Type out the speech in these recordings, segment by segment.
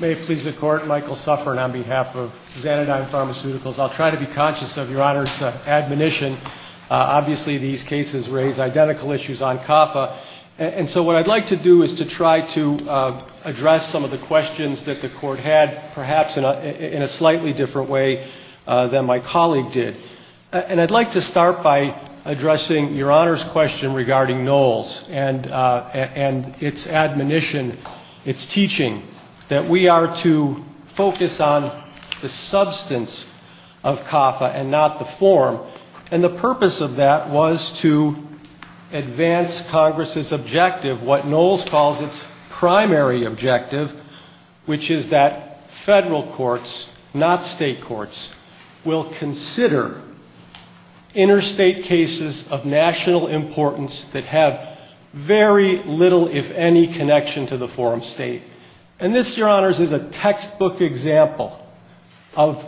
May it please the Court, Michael Suffern on behalf of Xanodyne Pharmaceuticals. I'll try to be conscious of Your Honor's admonition. Obviously, these cases raise identical issues on CAFA, and so what I'd like to do is to try to address some of the questions that the Court had, perhaps in a slightly different way than my colleague did. And I'd like to start by addressing Your Honor's question regarding NOLS and its admonition, its teaching, that we are to focus on the substance of CAFA and not the form. And the purpose of that was to advance Congress's objective, what NOLS calls its primary objective, which is that federal courts, not state courts, will consider interstate cases of national importance that have very little, if any, connection to the form state. And this, Your Honors, is a textbook example of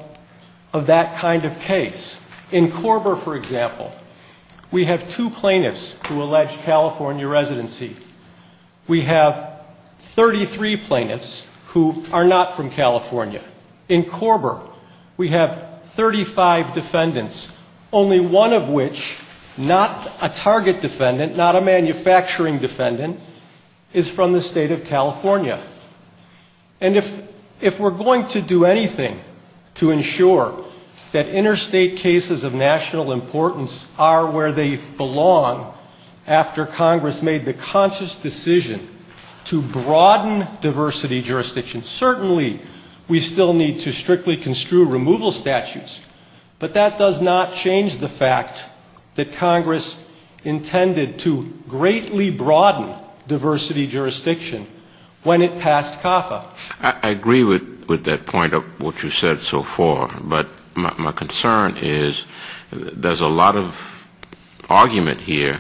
that kind of case. In Corber, for example, we have two plaintiffs who allege California residency. We have 33 plaintiffs who are not from California. In Corber, we have 35 defendants, only one of which, not a target defendant, not a manufacturing defendant, is from the state of California. And if we're going to do anything to ensure that interstate cases of national importance are where they belong after Congress made the conscious decision to broaden diversity jurisdiction, certainly we still need to strictly construe removal statutes, but that does not change the fact that Congress intended to greatly broaden diversity jurisdiction when it passed CAFA. I agree with that point of what you said so far, but my concern is there's a lot of argument here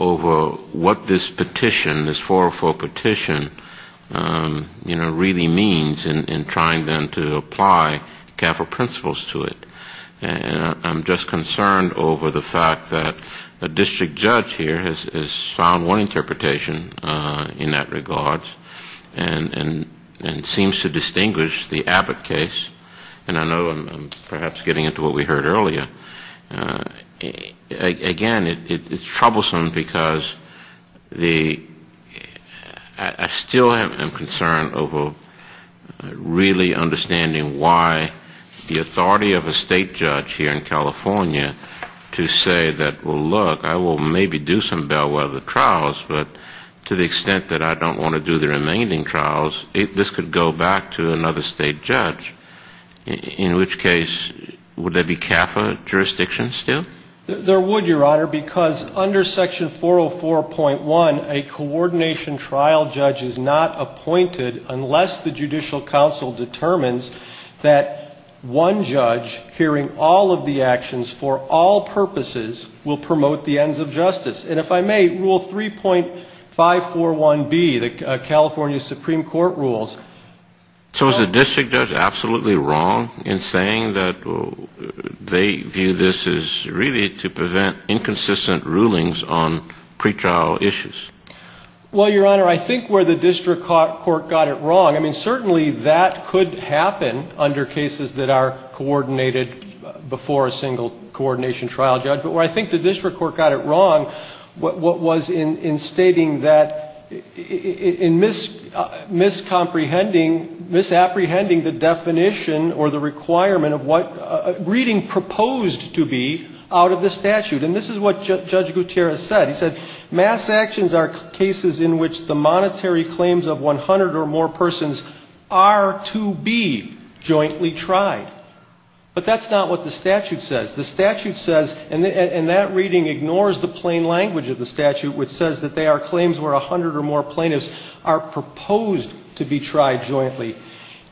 over what this petition, this 404 petition, you know, really means in trying then to apply CAFA principles to it. And I'm just concerned over the fact that a district judge here has found one interpretation in that regard and seems to distinguish the Abbott case, and I know I'm perhaps getting into what we heard earlier. Again, it's troublesome because I still am concerned over really understanding why the authority of a state judge here in California to say that, oh, look, I will maybe do some bellwether trials, but to the extent that I don't want to do the remaining trials, this could go back to another state judge, in which case would there be CAFA jurisdictions still? There would, Your Honor, because under section 404.1, a coordination trial judge is not appointed unless the judicial counsel determines that one judge hearing all of the actions for all purposes will promote the ends of justice. And if I may, rule 3.541B, the California Supreme Court rules. So is the district judge absolutely wrong in saying that they view this as really to prevent inconsistent rulings on pretrial issues? Well, Your Honor, I think where the district court got it wrong, I mean, certainly that could happen under cases that are coordinated before a single coordination trial judge, but where I think the district court got it wrong, what was in stating that in miscomprehending, misapprehending the definition or the requirement of what a reading proposed to be out of the statute, and this is what Judge Gutierrez said. He said, mass actions are cases in which the monetary claims of 100 or more persons are to be jointly tried. But that's not what the statute says. The statute says, and that reading ignores the plain language of the statute, which says that they are claims where 100 or more plaintiffs are proposed to be tried jointly.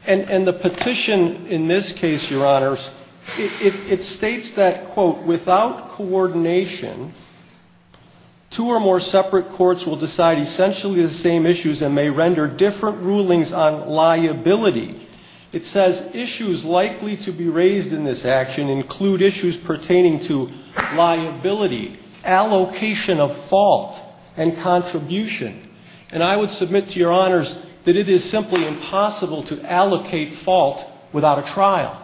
And the petition in this case, Your Honors, it states that, quote, without coordination, two or more separate courts will decide essentially the same issues and may render different rulings on liability. It says issues likely to be raised in this action include issues pertaining to liability, allocation of fault, and contribution. And I would submit to Your Honors that it is simply impossible to allocate fault without a trial.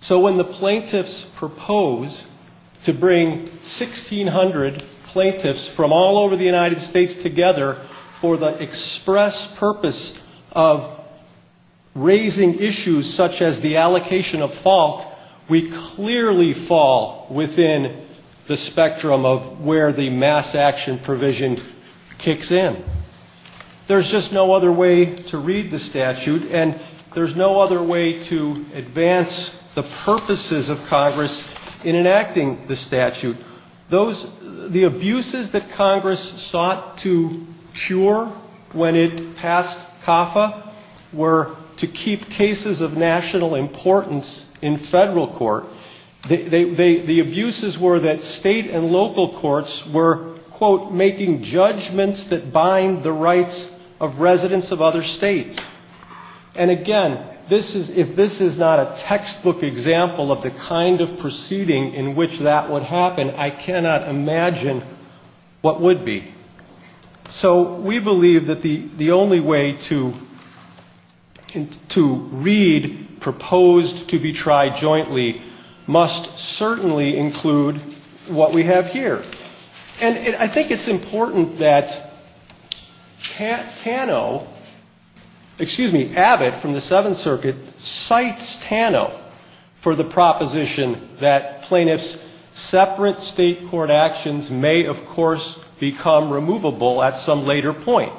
So when the plaintiffs propose to bring 1,600 plaintiffs from all over the United States together for the express purpose of raising issues such as the allocation of fault, we clearly fall within the spectrum of where the mass action provision kicks in. There's just no other way to read the statute, and there's no other way to advance the purposes of Congress in enacting the statute. Those, the abuses that Congress sought to cure when it passed CAFA were to keep cases of national importance in federal court. The abuses were that state and local courts were, quote, making judgments that bind the rights of residents of other states. And again, this is, if this is not a textbook example of the kind of proceeding in which that would happen, I cannot imagine what would be. So we believe that the only way to read proposed to be tried jointly must certainly include what we have here. And I think it's important that Tano, excuse me, Abbott from the Seventh Circuit, cites Tano for the proposition that plaintiffs' separate state court actions may, of course, become removable at some later point.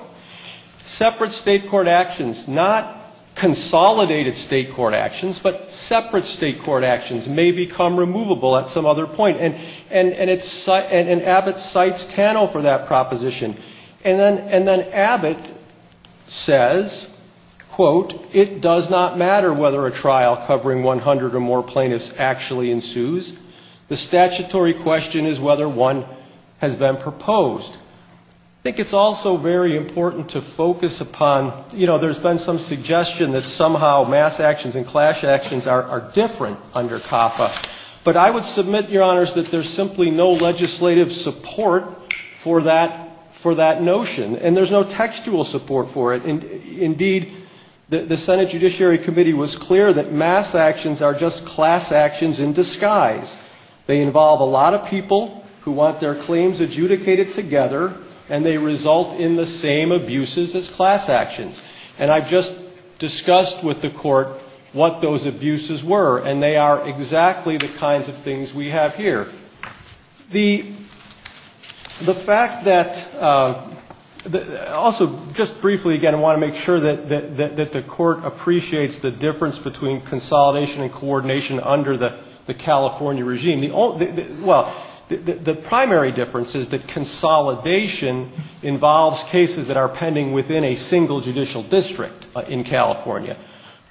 Separate state court actions, not consolidated state court actions, but separate state court actions may become removable at some other point. And it's, and Abbott cites Tano for that proposition. And then Abbott says, quote, it does not matter whether a trial covering 100 or more plaintiffs actually ensues. The statutory question is whether one has been proposed. I think it's also very important to focus upon, you know, there's been some suggestion that somehow mass actions and clash actions are different under CAFA, but I would submit, Your Honors, that there's simply no legislative support for that notion, and there's no textual support for it. Indeed, the Senate Judiciary Committee was clear that mass actions are just class actions in disguise. They involve a lot of people who want their claims adjudicated together, and they result in the same abuses as class actions. And I've just discussed with the Court what those abuses were, and they are exactly the kinds of things we have here. The fact that, also, just briefly again, I want to make sure that the Court appreciates the difference between consolidation and coordination under the California regime. Well, the primary difference is that consolidation involves cases that are pending within a single judicial district in California.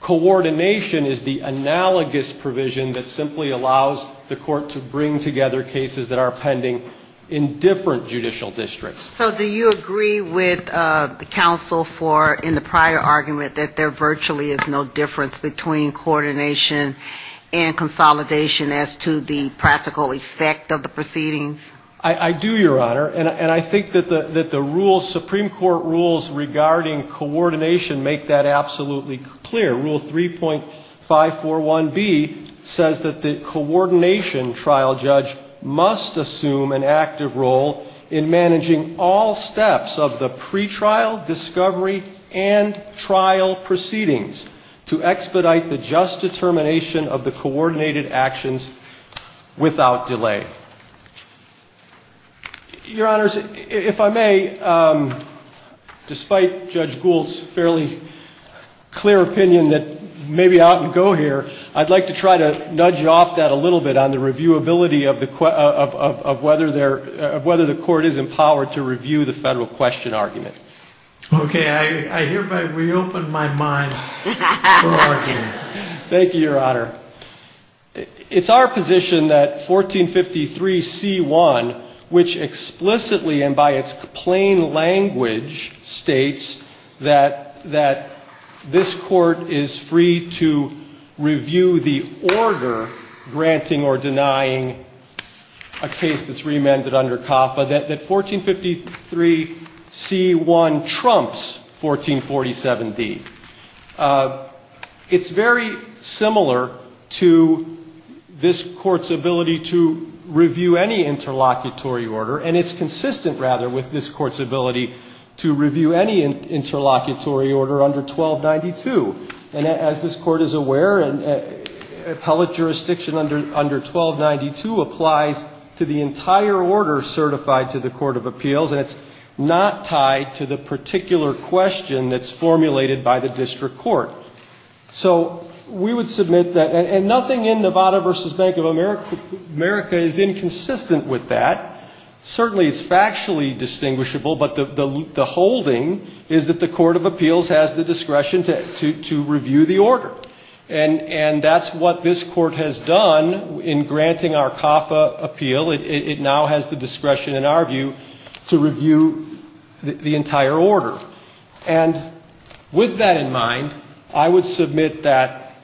Coordination is the analogous provision that simply allows the Court to bring together cases that are pending in different judicial districts. So do you agree with the counsel for, in the prior argument, that there virtually is no difference between coordination and consolidation as to the prior argument? I do, Your Honor, and I think that the rules, Supreme Court rules regarding coordination make that absolutely clear. Rule 3.541B says that the coordination trial judge must assume an active role in managing all steps of the pretrial, discovery, and trial proceedings to expedite the just determination of the coordinated actions without delay. Your Honors, if I may, despite Judge Gould's fairly clear opinion that maybe I ought to go here, I'd like to try to nudge off that a little bit on the reviewability of whether the Court is empowered to review the federal question argument. Okay, I hereby reopen my mind for argument. Thank you, Your Honor. It's our position that 1453C1, which explicitly and by its plain language states that this Court is free to review the order granting or denying a case that's reamended under CAFA, that 1453C1 trumps 1447D. It's very similar to this Court's ability to review any interlocutory order, and it's consistent, rather, with this Court's ability to review any interlocutory order under 1292. And as this Court is aware, appellate jurisdiction under 1292 applies to the entire order certified by the federal court. It's not tied to the Court of Appeals, and it's not tied to the particular question that's formulated by the district court. So we would submit that, and nothing in Nevada v. Bank of America is inconsistent with that. Certainly it's factually distinguishable, but the holding is that the Court of Appeals has the discretion to review the order. And that's what this Court has done in granting our CAFA appeal. It now has the discretion, in our view, to review the entire order. And with that in mind, I would submit that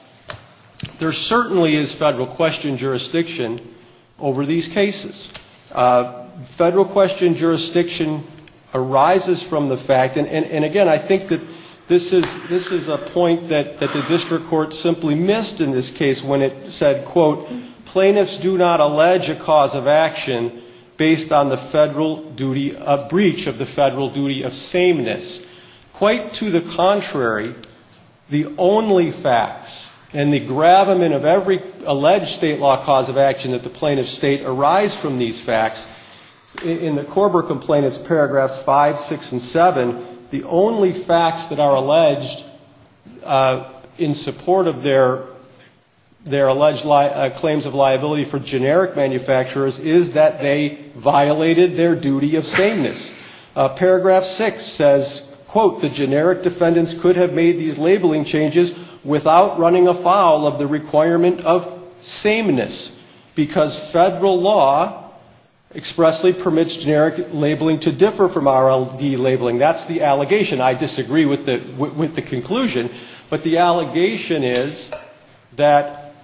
there certainly is federal question jurisdiction over these cases. Federal question jurisdiction arises from the fact, and again, I think that this is a point that the district court simply missed in this case when it said, quote, plaintiffs do not allege a cause of action based on the federal duty of breach, of the federal duty of sameness. Quite to the contrary, the only facts, and the gravamen of every alleged state law cause of action that the plaintiff's state arise from these facts, in the Korber complaint, it's paragraphs 5, 6, and 7, the only facts that are alleged in support of their alleged claims of sameness are the state law. The only fact that the plaintiff's state arise from these claims of liability for generic manufacturers is that they violated their duty of sameness. Paragraph 6 says, quote, the generic defendants could have made these labeling changes without running afoul of the requirement of sameness, because federal law expressly permits generic labeling to differ from RLD labeling. That's the allegation. I disagree with the conclusion, but the allegation is that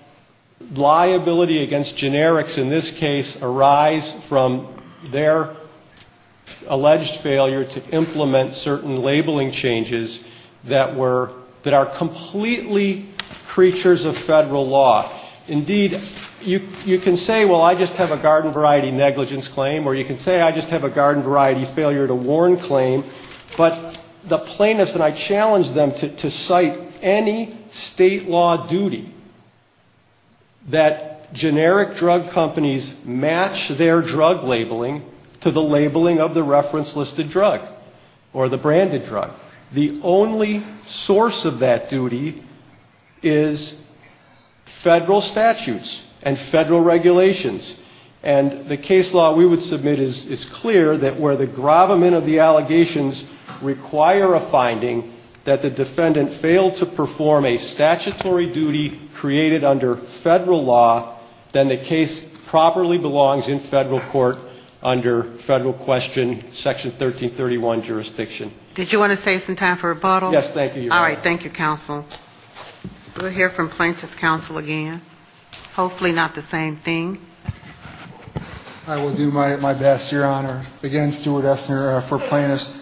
liability against generics in this case arise from their alleged failure to implement certain labeling changes that were, that are completely creatures of federal law. Indeed, you can say, well, I just have a garden variety negligence claim, or you can say I just have a garden variety failure to warn claim, but the plaintiffs, and I challenge them to cite any state law duty that generic drug companies match their drug labeling to the labeling of the reference listed drug, or the branded drug. The only source of that duty is federal statutes and federal regulations, and the case law we would submit is clear that where the allegations require a finding that the defendant failed to perform a statutory duty created under federal law, then the case properly belongs in federal court under federal question, Section 1331 jurisdiction. Did you want to save some time for rebuttal? All right. Thank you, counsel. We'll hear from plaintiff's counsel again. Hopefully not the same thing. I will do my best, Your Honor. Again, Stuart Essner for plaintiffs.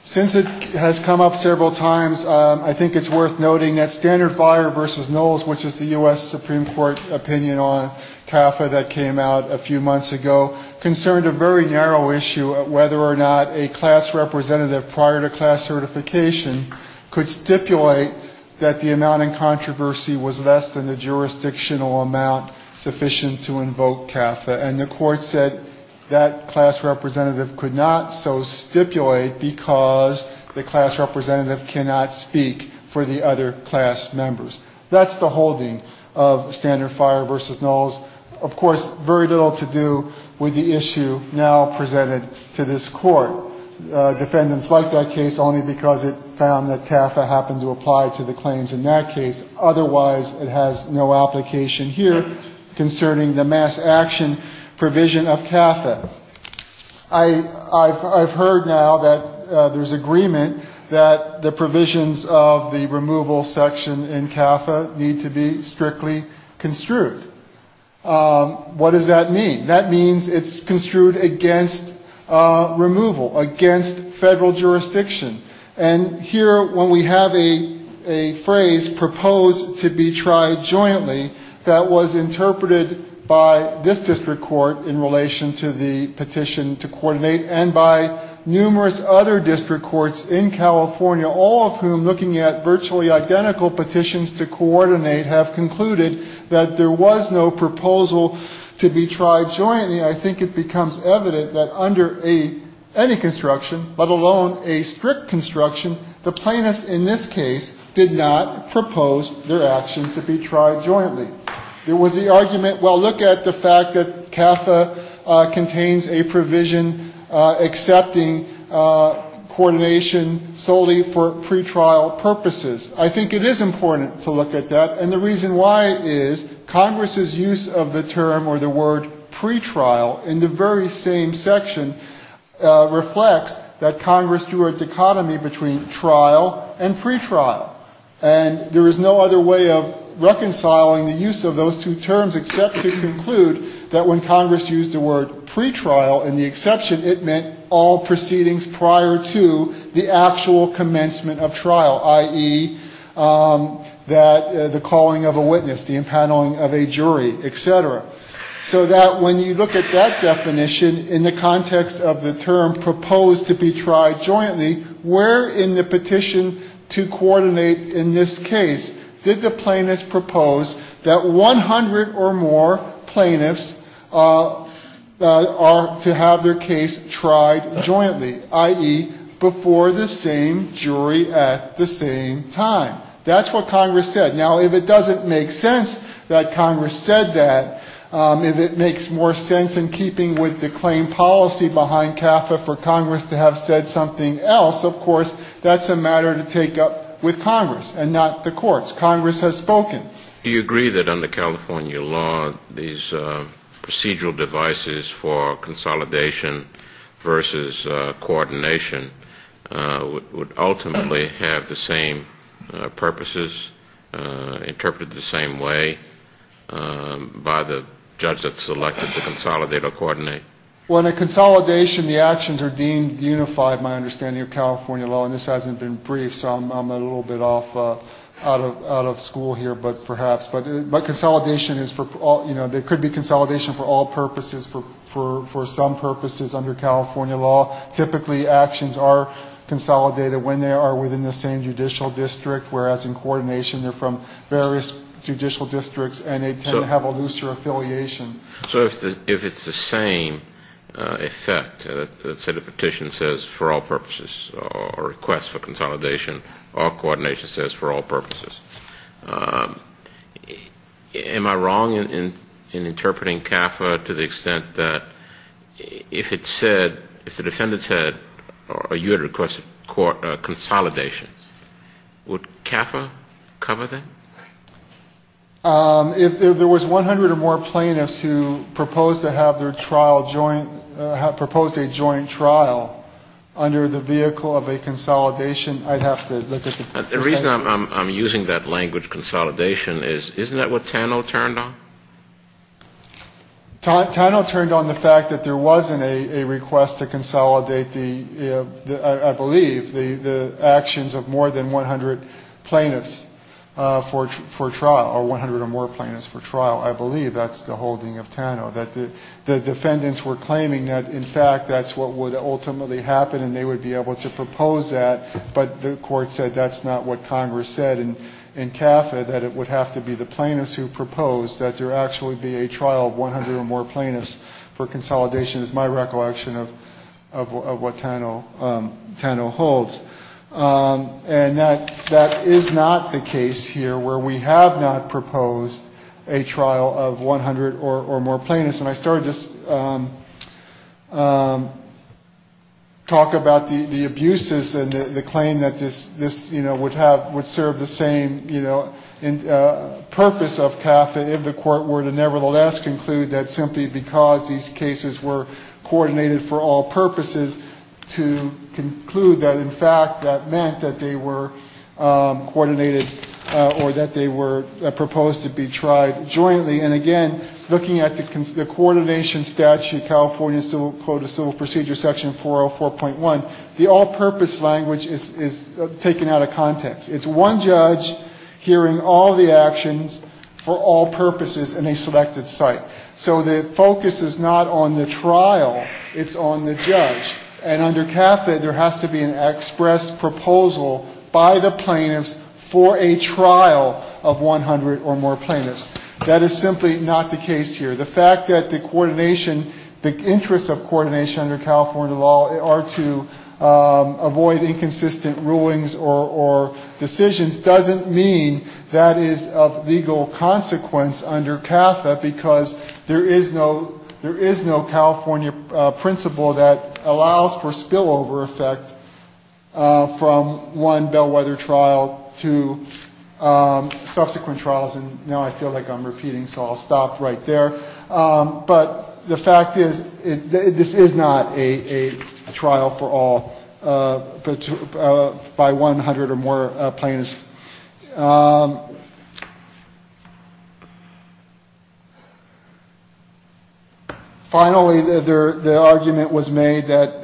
Since it has come up several times, I think it's worth noting that Standard Fire v. Knowles, which is the U.S. Supreme Court opinion on CAFA that came out a few months ago, concerned a very narrow issue of whether or not a class representative prior to class certification could still be considered to be a class representative. The court stipulated that the amount in controversy was less than the jurisdictional amount sufficient to invoke CAFA, and the court said that class representative could not so stipulate because the class representative cannot speak for the other class members. That's the holding of Standard Fire v. Knowles. Of course, very little to do with the issue now presented to this court. Defendants like that case only because it found that CAFA happened to be a class representative. It found to apply to the claims in that case. Otherwise, it has no application here concerning the mass action provision of CAFA. I've heard now that there's agreement that the provisions of the removal section in CAFA need to be strictly construed. What does that mean? That means it's construed against removal, against federal jurisdiction. And here, when we have a phrase, proposed to be tried jointly, that was interpreted by this district court in relation to the petition to coordinate, and by numerous other district courts in California, all of whom looking at virtually identical petitions to coordinate, have concluded that there was no proposal to be tried jointly. And consequently, I think it becomes evident that under any construction, let alone a strict construction, the plaintiffs in this case did not propose their action to be tried jointly. There was the argument, well, look at the fact that CAFA contains a provision accepting coordination solely for pretrial purposes. I think it is important to look at that. And the reason why is Congress's use of the term or the word pretrial in the very same section reflects that Congress drew a dichotomy between trial and pretrial. And there is no other way of reconciling the use of those two terms except to conclude that when Congress used the word pretrial in the exception, it meant all proceedings prior to the actual commencement of trial. I.e., that the calling of a witness, the impaneling of a jury, et cetera. So that when you look at that definition in the context of the term proposed to be tried jointly, where in the petition to coordinate in this case did the plaintiffs propose that 100 or more plaintiffs are to have their case tried jointly, i.e., before the same jury at the same time. That's what Congress said. Now, if it doesn't make sense that Congress said that, if it makes more sense in keeping with the claim policy behind CAFA for Congress to have said something else, of course, that's a matter to take up with Congress and not the courts. Congress has spoken. Do you agree that under California law, these procedural devices for consolidation versus coordination would ultimately have the same purposes, interpreted the same way by the judge that selected to consolidate or coordinate? Well, in a consolidation, the actions are deemed unified, my understanding of California law. And this hasn't been briefed, so I'm a little bit off, out of school here. But perhaps. But consolidation is for all, you know, there could be consolidation for all purposes, for some purposes under California law. Typically, actions are consolidated when they are within the same judicial district, whereas in coordination they're from various judicial districts and they tend to have a looser affiliation. So if it's the same effect, let's say the petition says for all purposes, or request for consolidation, our coordination says for all purposes, does that make sense? Am I wrong in interpreting CAFA to the extent that if it said, if the defendant said, or you had requested consolidation, would CAFA cover that? If there was 100 or more plaintiffs who proposed to have their trial joint, proposed a joint trial under the vehicle of a consolidation, I'd have to look at the section. The reason I'm using that language, consolidation, is isn't that what Tano turned on? Tano turned on the fact that there wasn't a request to consolidate the, I believe, the actions of more than 100 plaintiffs for trial, or 100 or more plaintiffs for trial. I believe that's the holding of Tano, that the defendants were claiming that, in fact, that's what would ultimately happen and they would be able to propose that. But the court said that's not what Congress said in CAFA, that it would have to be the plaintiffs who proposed, that there actually be a trial of 100 or more plaintiffs for consolidation, is my recollection of what Tano holds. And that is not the case here, where we have not proposed a trial of 100 or more plaintiffs. And I started to talk about the abuses in the case of Tano. I started to claim that this, you know, would have, would serve the same, you know, purpose of CAFA, if the court were to nevertheless conclude that simply because these cases were coordinated for all purposes, to conclude that, in fact, that meant that they were coordinated, or that they were proposed to be tried jointly. And, again, looking at the coordination statute, California Code of Civil Procedure, Section 404.1, the all-purpose language is that they were taken out of context. It's one judge hearing all the actions for all purposes in a selected site. So the focus is not on the trial. It's on the judge. And under CAFA, there has to be an express proposal by the plaintiffs for a trial of 100 or more plaintiffs. That is simply not the case here. The fact that the coordination, the interests of coordination under California law are to avoid inconsistent rulings or decisions doesn't mean that is of legal consequence under CAFA, because there is no, there is no California principle that allows for spillover effect from one bellwether trial to subsequent trials. And now I feel like I'm repeating, so I'll stop right there. But the fact is, this is not a trial for all, by 100 or more plaintiffs. Finally, the argument was made that,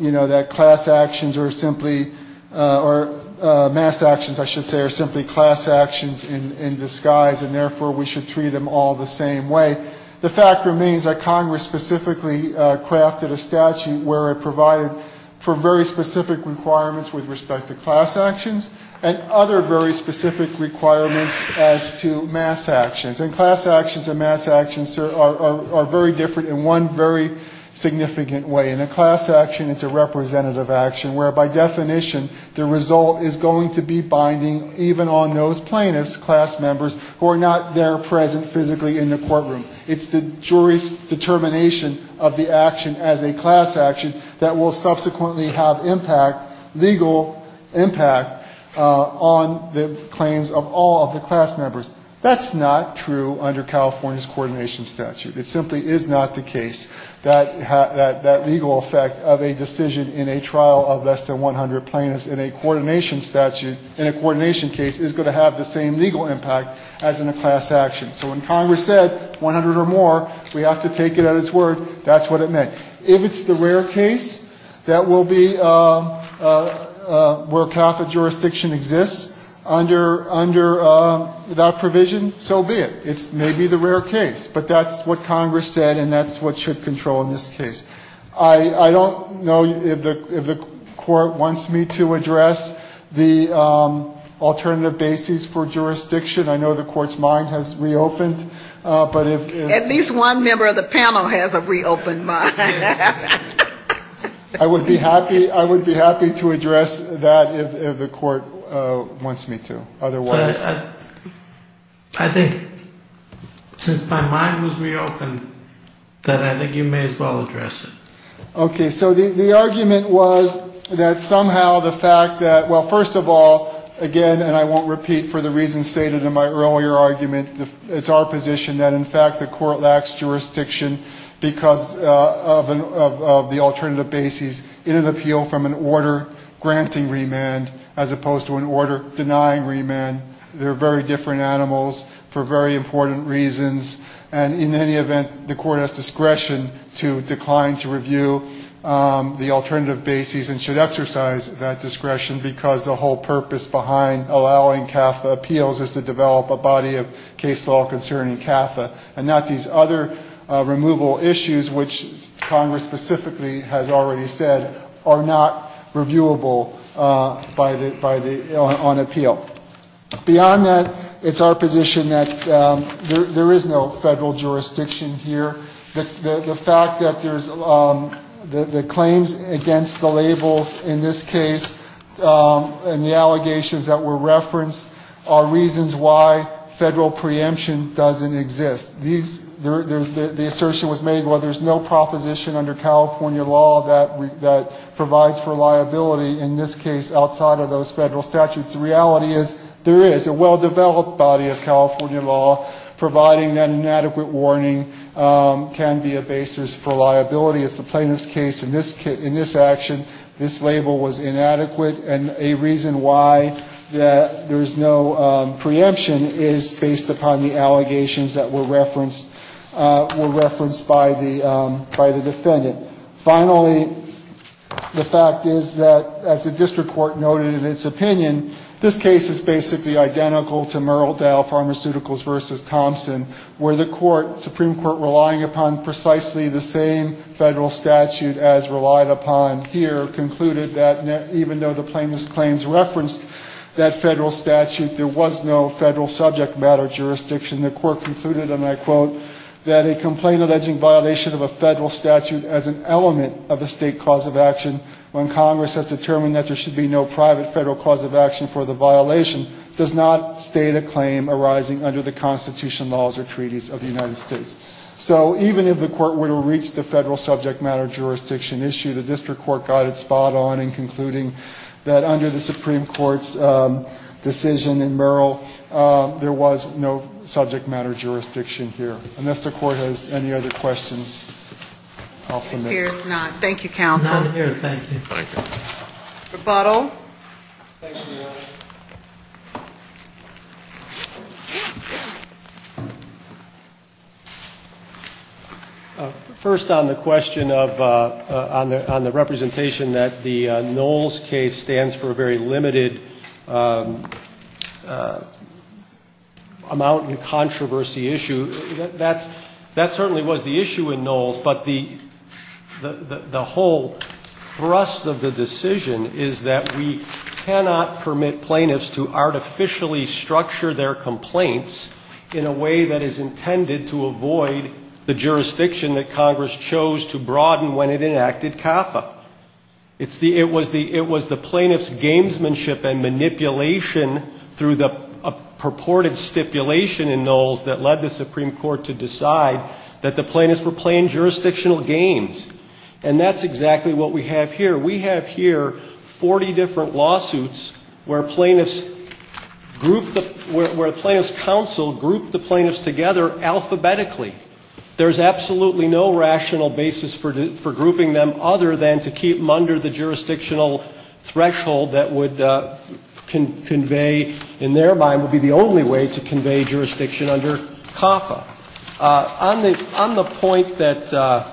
you know, that class actions are simply, or mass actions, I should say, are simply class actions in that the fact remains that Congress specifically crafted a statute where it provided for very specific requirements with respect to class actions and other very specific requirements as to mass actions. And class actions and mass actions are very different in one very significant way. In a class action, it's a representative action, where by definition the result is going to be binding even on those claims. It's the jury's determination of the action as a class action that will subsequently have impact, legal impact, on the claims of all of the class members. That's not true under California's coordination statute. It simply is not the case that that legal effect of a decision in a trial of less than 100 plaintiffs in a coordination statute, in a coordination case, is going to have the same legal impact as in a class action. So when Congress said, 100 or more, we have to take it at its word, that's what it meant. If it's the rare case that will be where Catholic jurisdiction exists under that provision, so be it. It may be the rare case, but that's what Congress said, and that's what should control in this case. I don't know if the Court wants me to address the alternative basis for jurisdiction. I don't know if the Court wants me to address the alternative basis for jurisdiction. I know the Court's mind has reopened, but if... At least one member of the panel has a reopened mind. I would be happy to address that if the Court wants me to. I think since my mind was reopened, that I think you may as well address it. Okay. So the argument was that somehow the fact that, well, first of all, again, and I won't repeat for the reasons stated in my earlier argument, it's our position that in fact the Court lacks jurisdiction because of the alternative basis in an appeal from an order granting remand as opposed to an order denying remand. They're very different animals for very important reasons, and in any event, the Court has discretion to decline to review the alternative basis and should exercise that discretion because the whole purpose behind allowing Catholic appeals is to develop a body of case law concerning Catha and not these other removal issues, which Congress specifically has already said are not reviewable on appeal. Beyond that, it's our position that there is no federal jurisdiction here. The fact that there's the claims against the labels in this case and the allegations that were referenced are reasons why the federal preemption doesn't exist. The assertion was made, well, there's no proposition under California law that provides for liability in this case outside of those federal statutes. The reality is there is. A well-developed body of California law providing that inadequate warning can be a basis for liability. It's the plaintiff's case in this action, this label was inadequate, and a reason why that there's no preemption is based upon the allegations that were referenced by the defendant. Finally, the fact is that, as the district court noted in its opinion, this case is basically identical to Merrill Dell Pharmaceuticals v. Thompson, where the court, Supreme Court, relying upon precisely the same federal jurisdiction. The federal statute as relied upon here concluded that even though the plaintiff's claims referenced that federal statute, there was no federal subject matter jurisdiction. The court concluded, and I quote, that a complaint alleging violation of a federal statute as an element of a state cause of action when Congress has determined that there should be no private federal cause of action for the violation does not state a claim arising under the Constitution laws or treaties of the United States. So even if the court were to reach the federal subject matter jurisdiction issue, the district court got it spot on in concluding that under the Supreme Court's decision in Merrill, there was no subject matter jurisdiction here. Unless the court has any other questions, I'll submit. Thank you, counsel. First, on the question of, on the representation that the Knowles case stands for a very limited amount in controversy issue, that certainly was the issue in Knowles, but the whole thrust of the decision is that we cannot permit plaintiffs to artificially structure their complaints in a way that is intended to avoid the possibility that Congress chose to broaden when it enacted CAFA. It was the plaintiff's gamesmanship and manipulation through the purported stipulation in Knowles that led the Supreme Court to decide that the plaintiffs were playing jurisdictional games, and that's exactly what we have here. We have here 40 different lawsuits where plaintiffs group, where plaintiffs counsel group the plaintiffs together alphabetically. There's absolutely no rational basis for grouping them other than to keep them under the jurisdictional threshold that would convey, in their mind, would be the only way to convey jurisdiction under CAFA. On the point that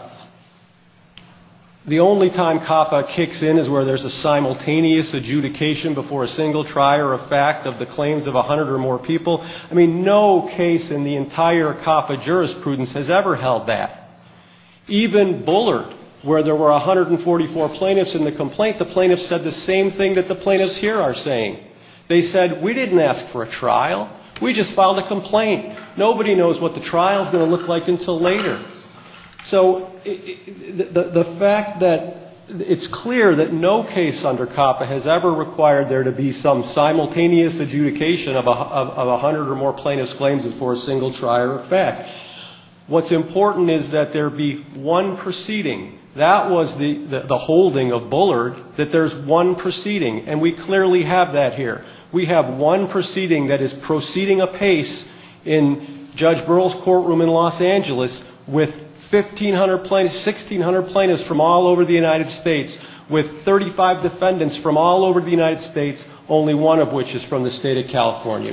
the only time CAFA kicks in is where there's a simultaneous adjudication before a single trier of fact of the claims of 100 or more people, I mean, no case in the entire CAFA jurisprudence has ever held that. Even Bullard, where there were 144 plaintiffs in the complaint, the plaintiffs said the same thing that the plaintiffs here are saying. They said, we didn't ask for a trial. We just filed a complaint. Nobody knows what the trial is going to look like until later. So the fact that it's clear that no case under CAFA has ever required there to be some simultaneous adjudication, of 100 or more plaintiffs' claims before a single trier of fact, what's important is that there be one proceeding. That was the holding of Bullard, that there's one proceeding, and we clearly have that here. We have one proceeding that is proceeding apace in Judge Burrell's courtroom in Los Angeles with 1,500 plaintiffs, 1,600 plaintiffs from all over the United States, with 35 defendants from all over the United States, only one of which is from the State of California.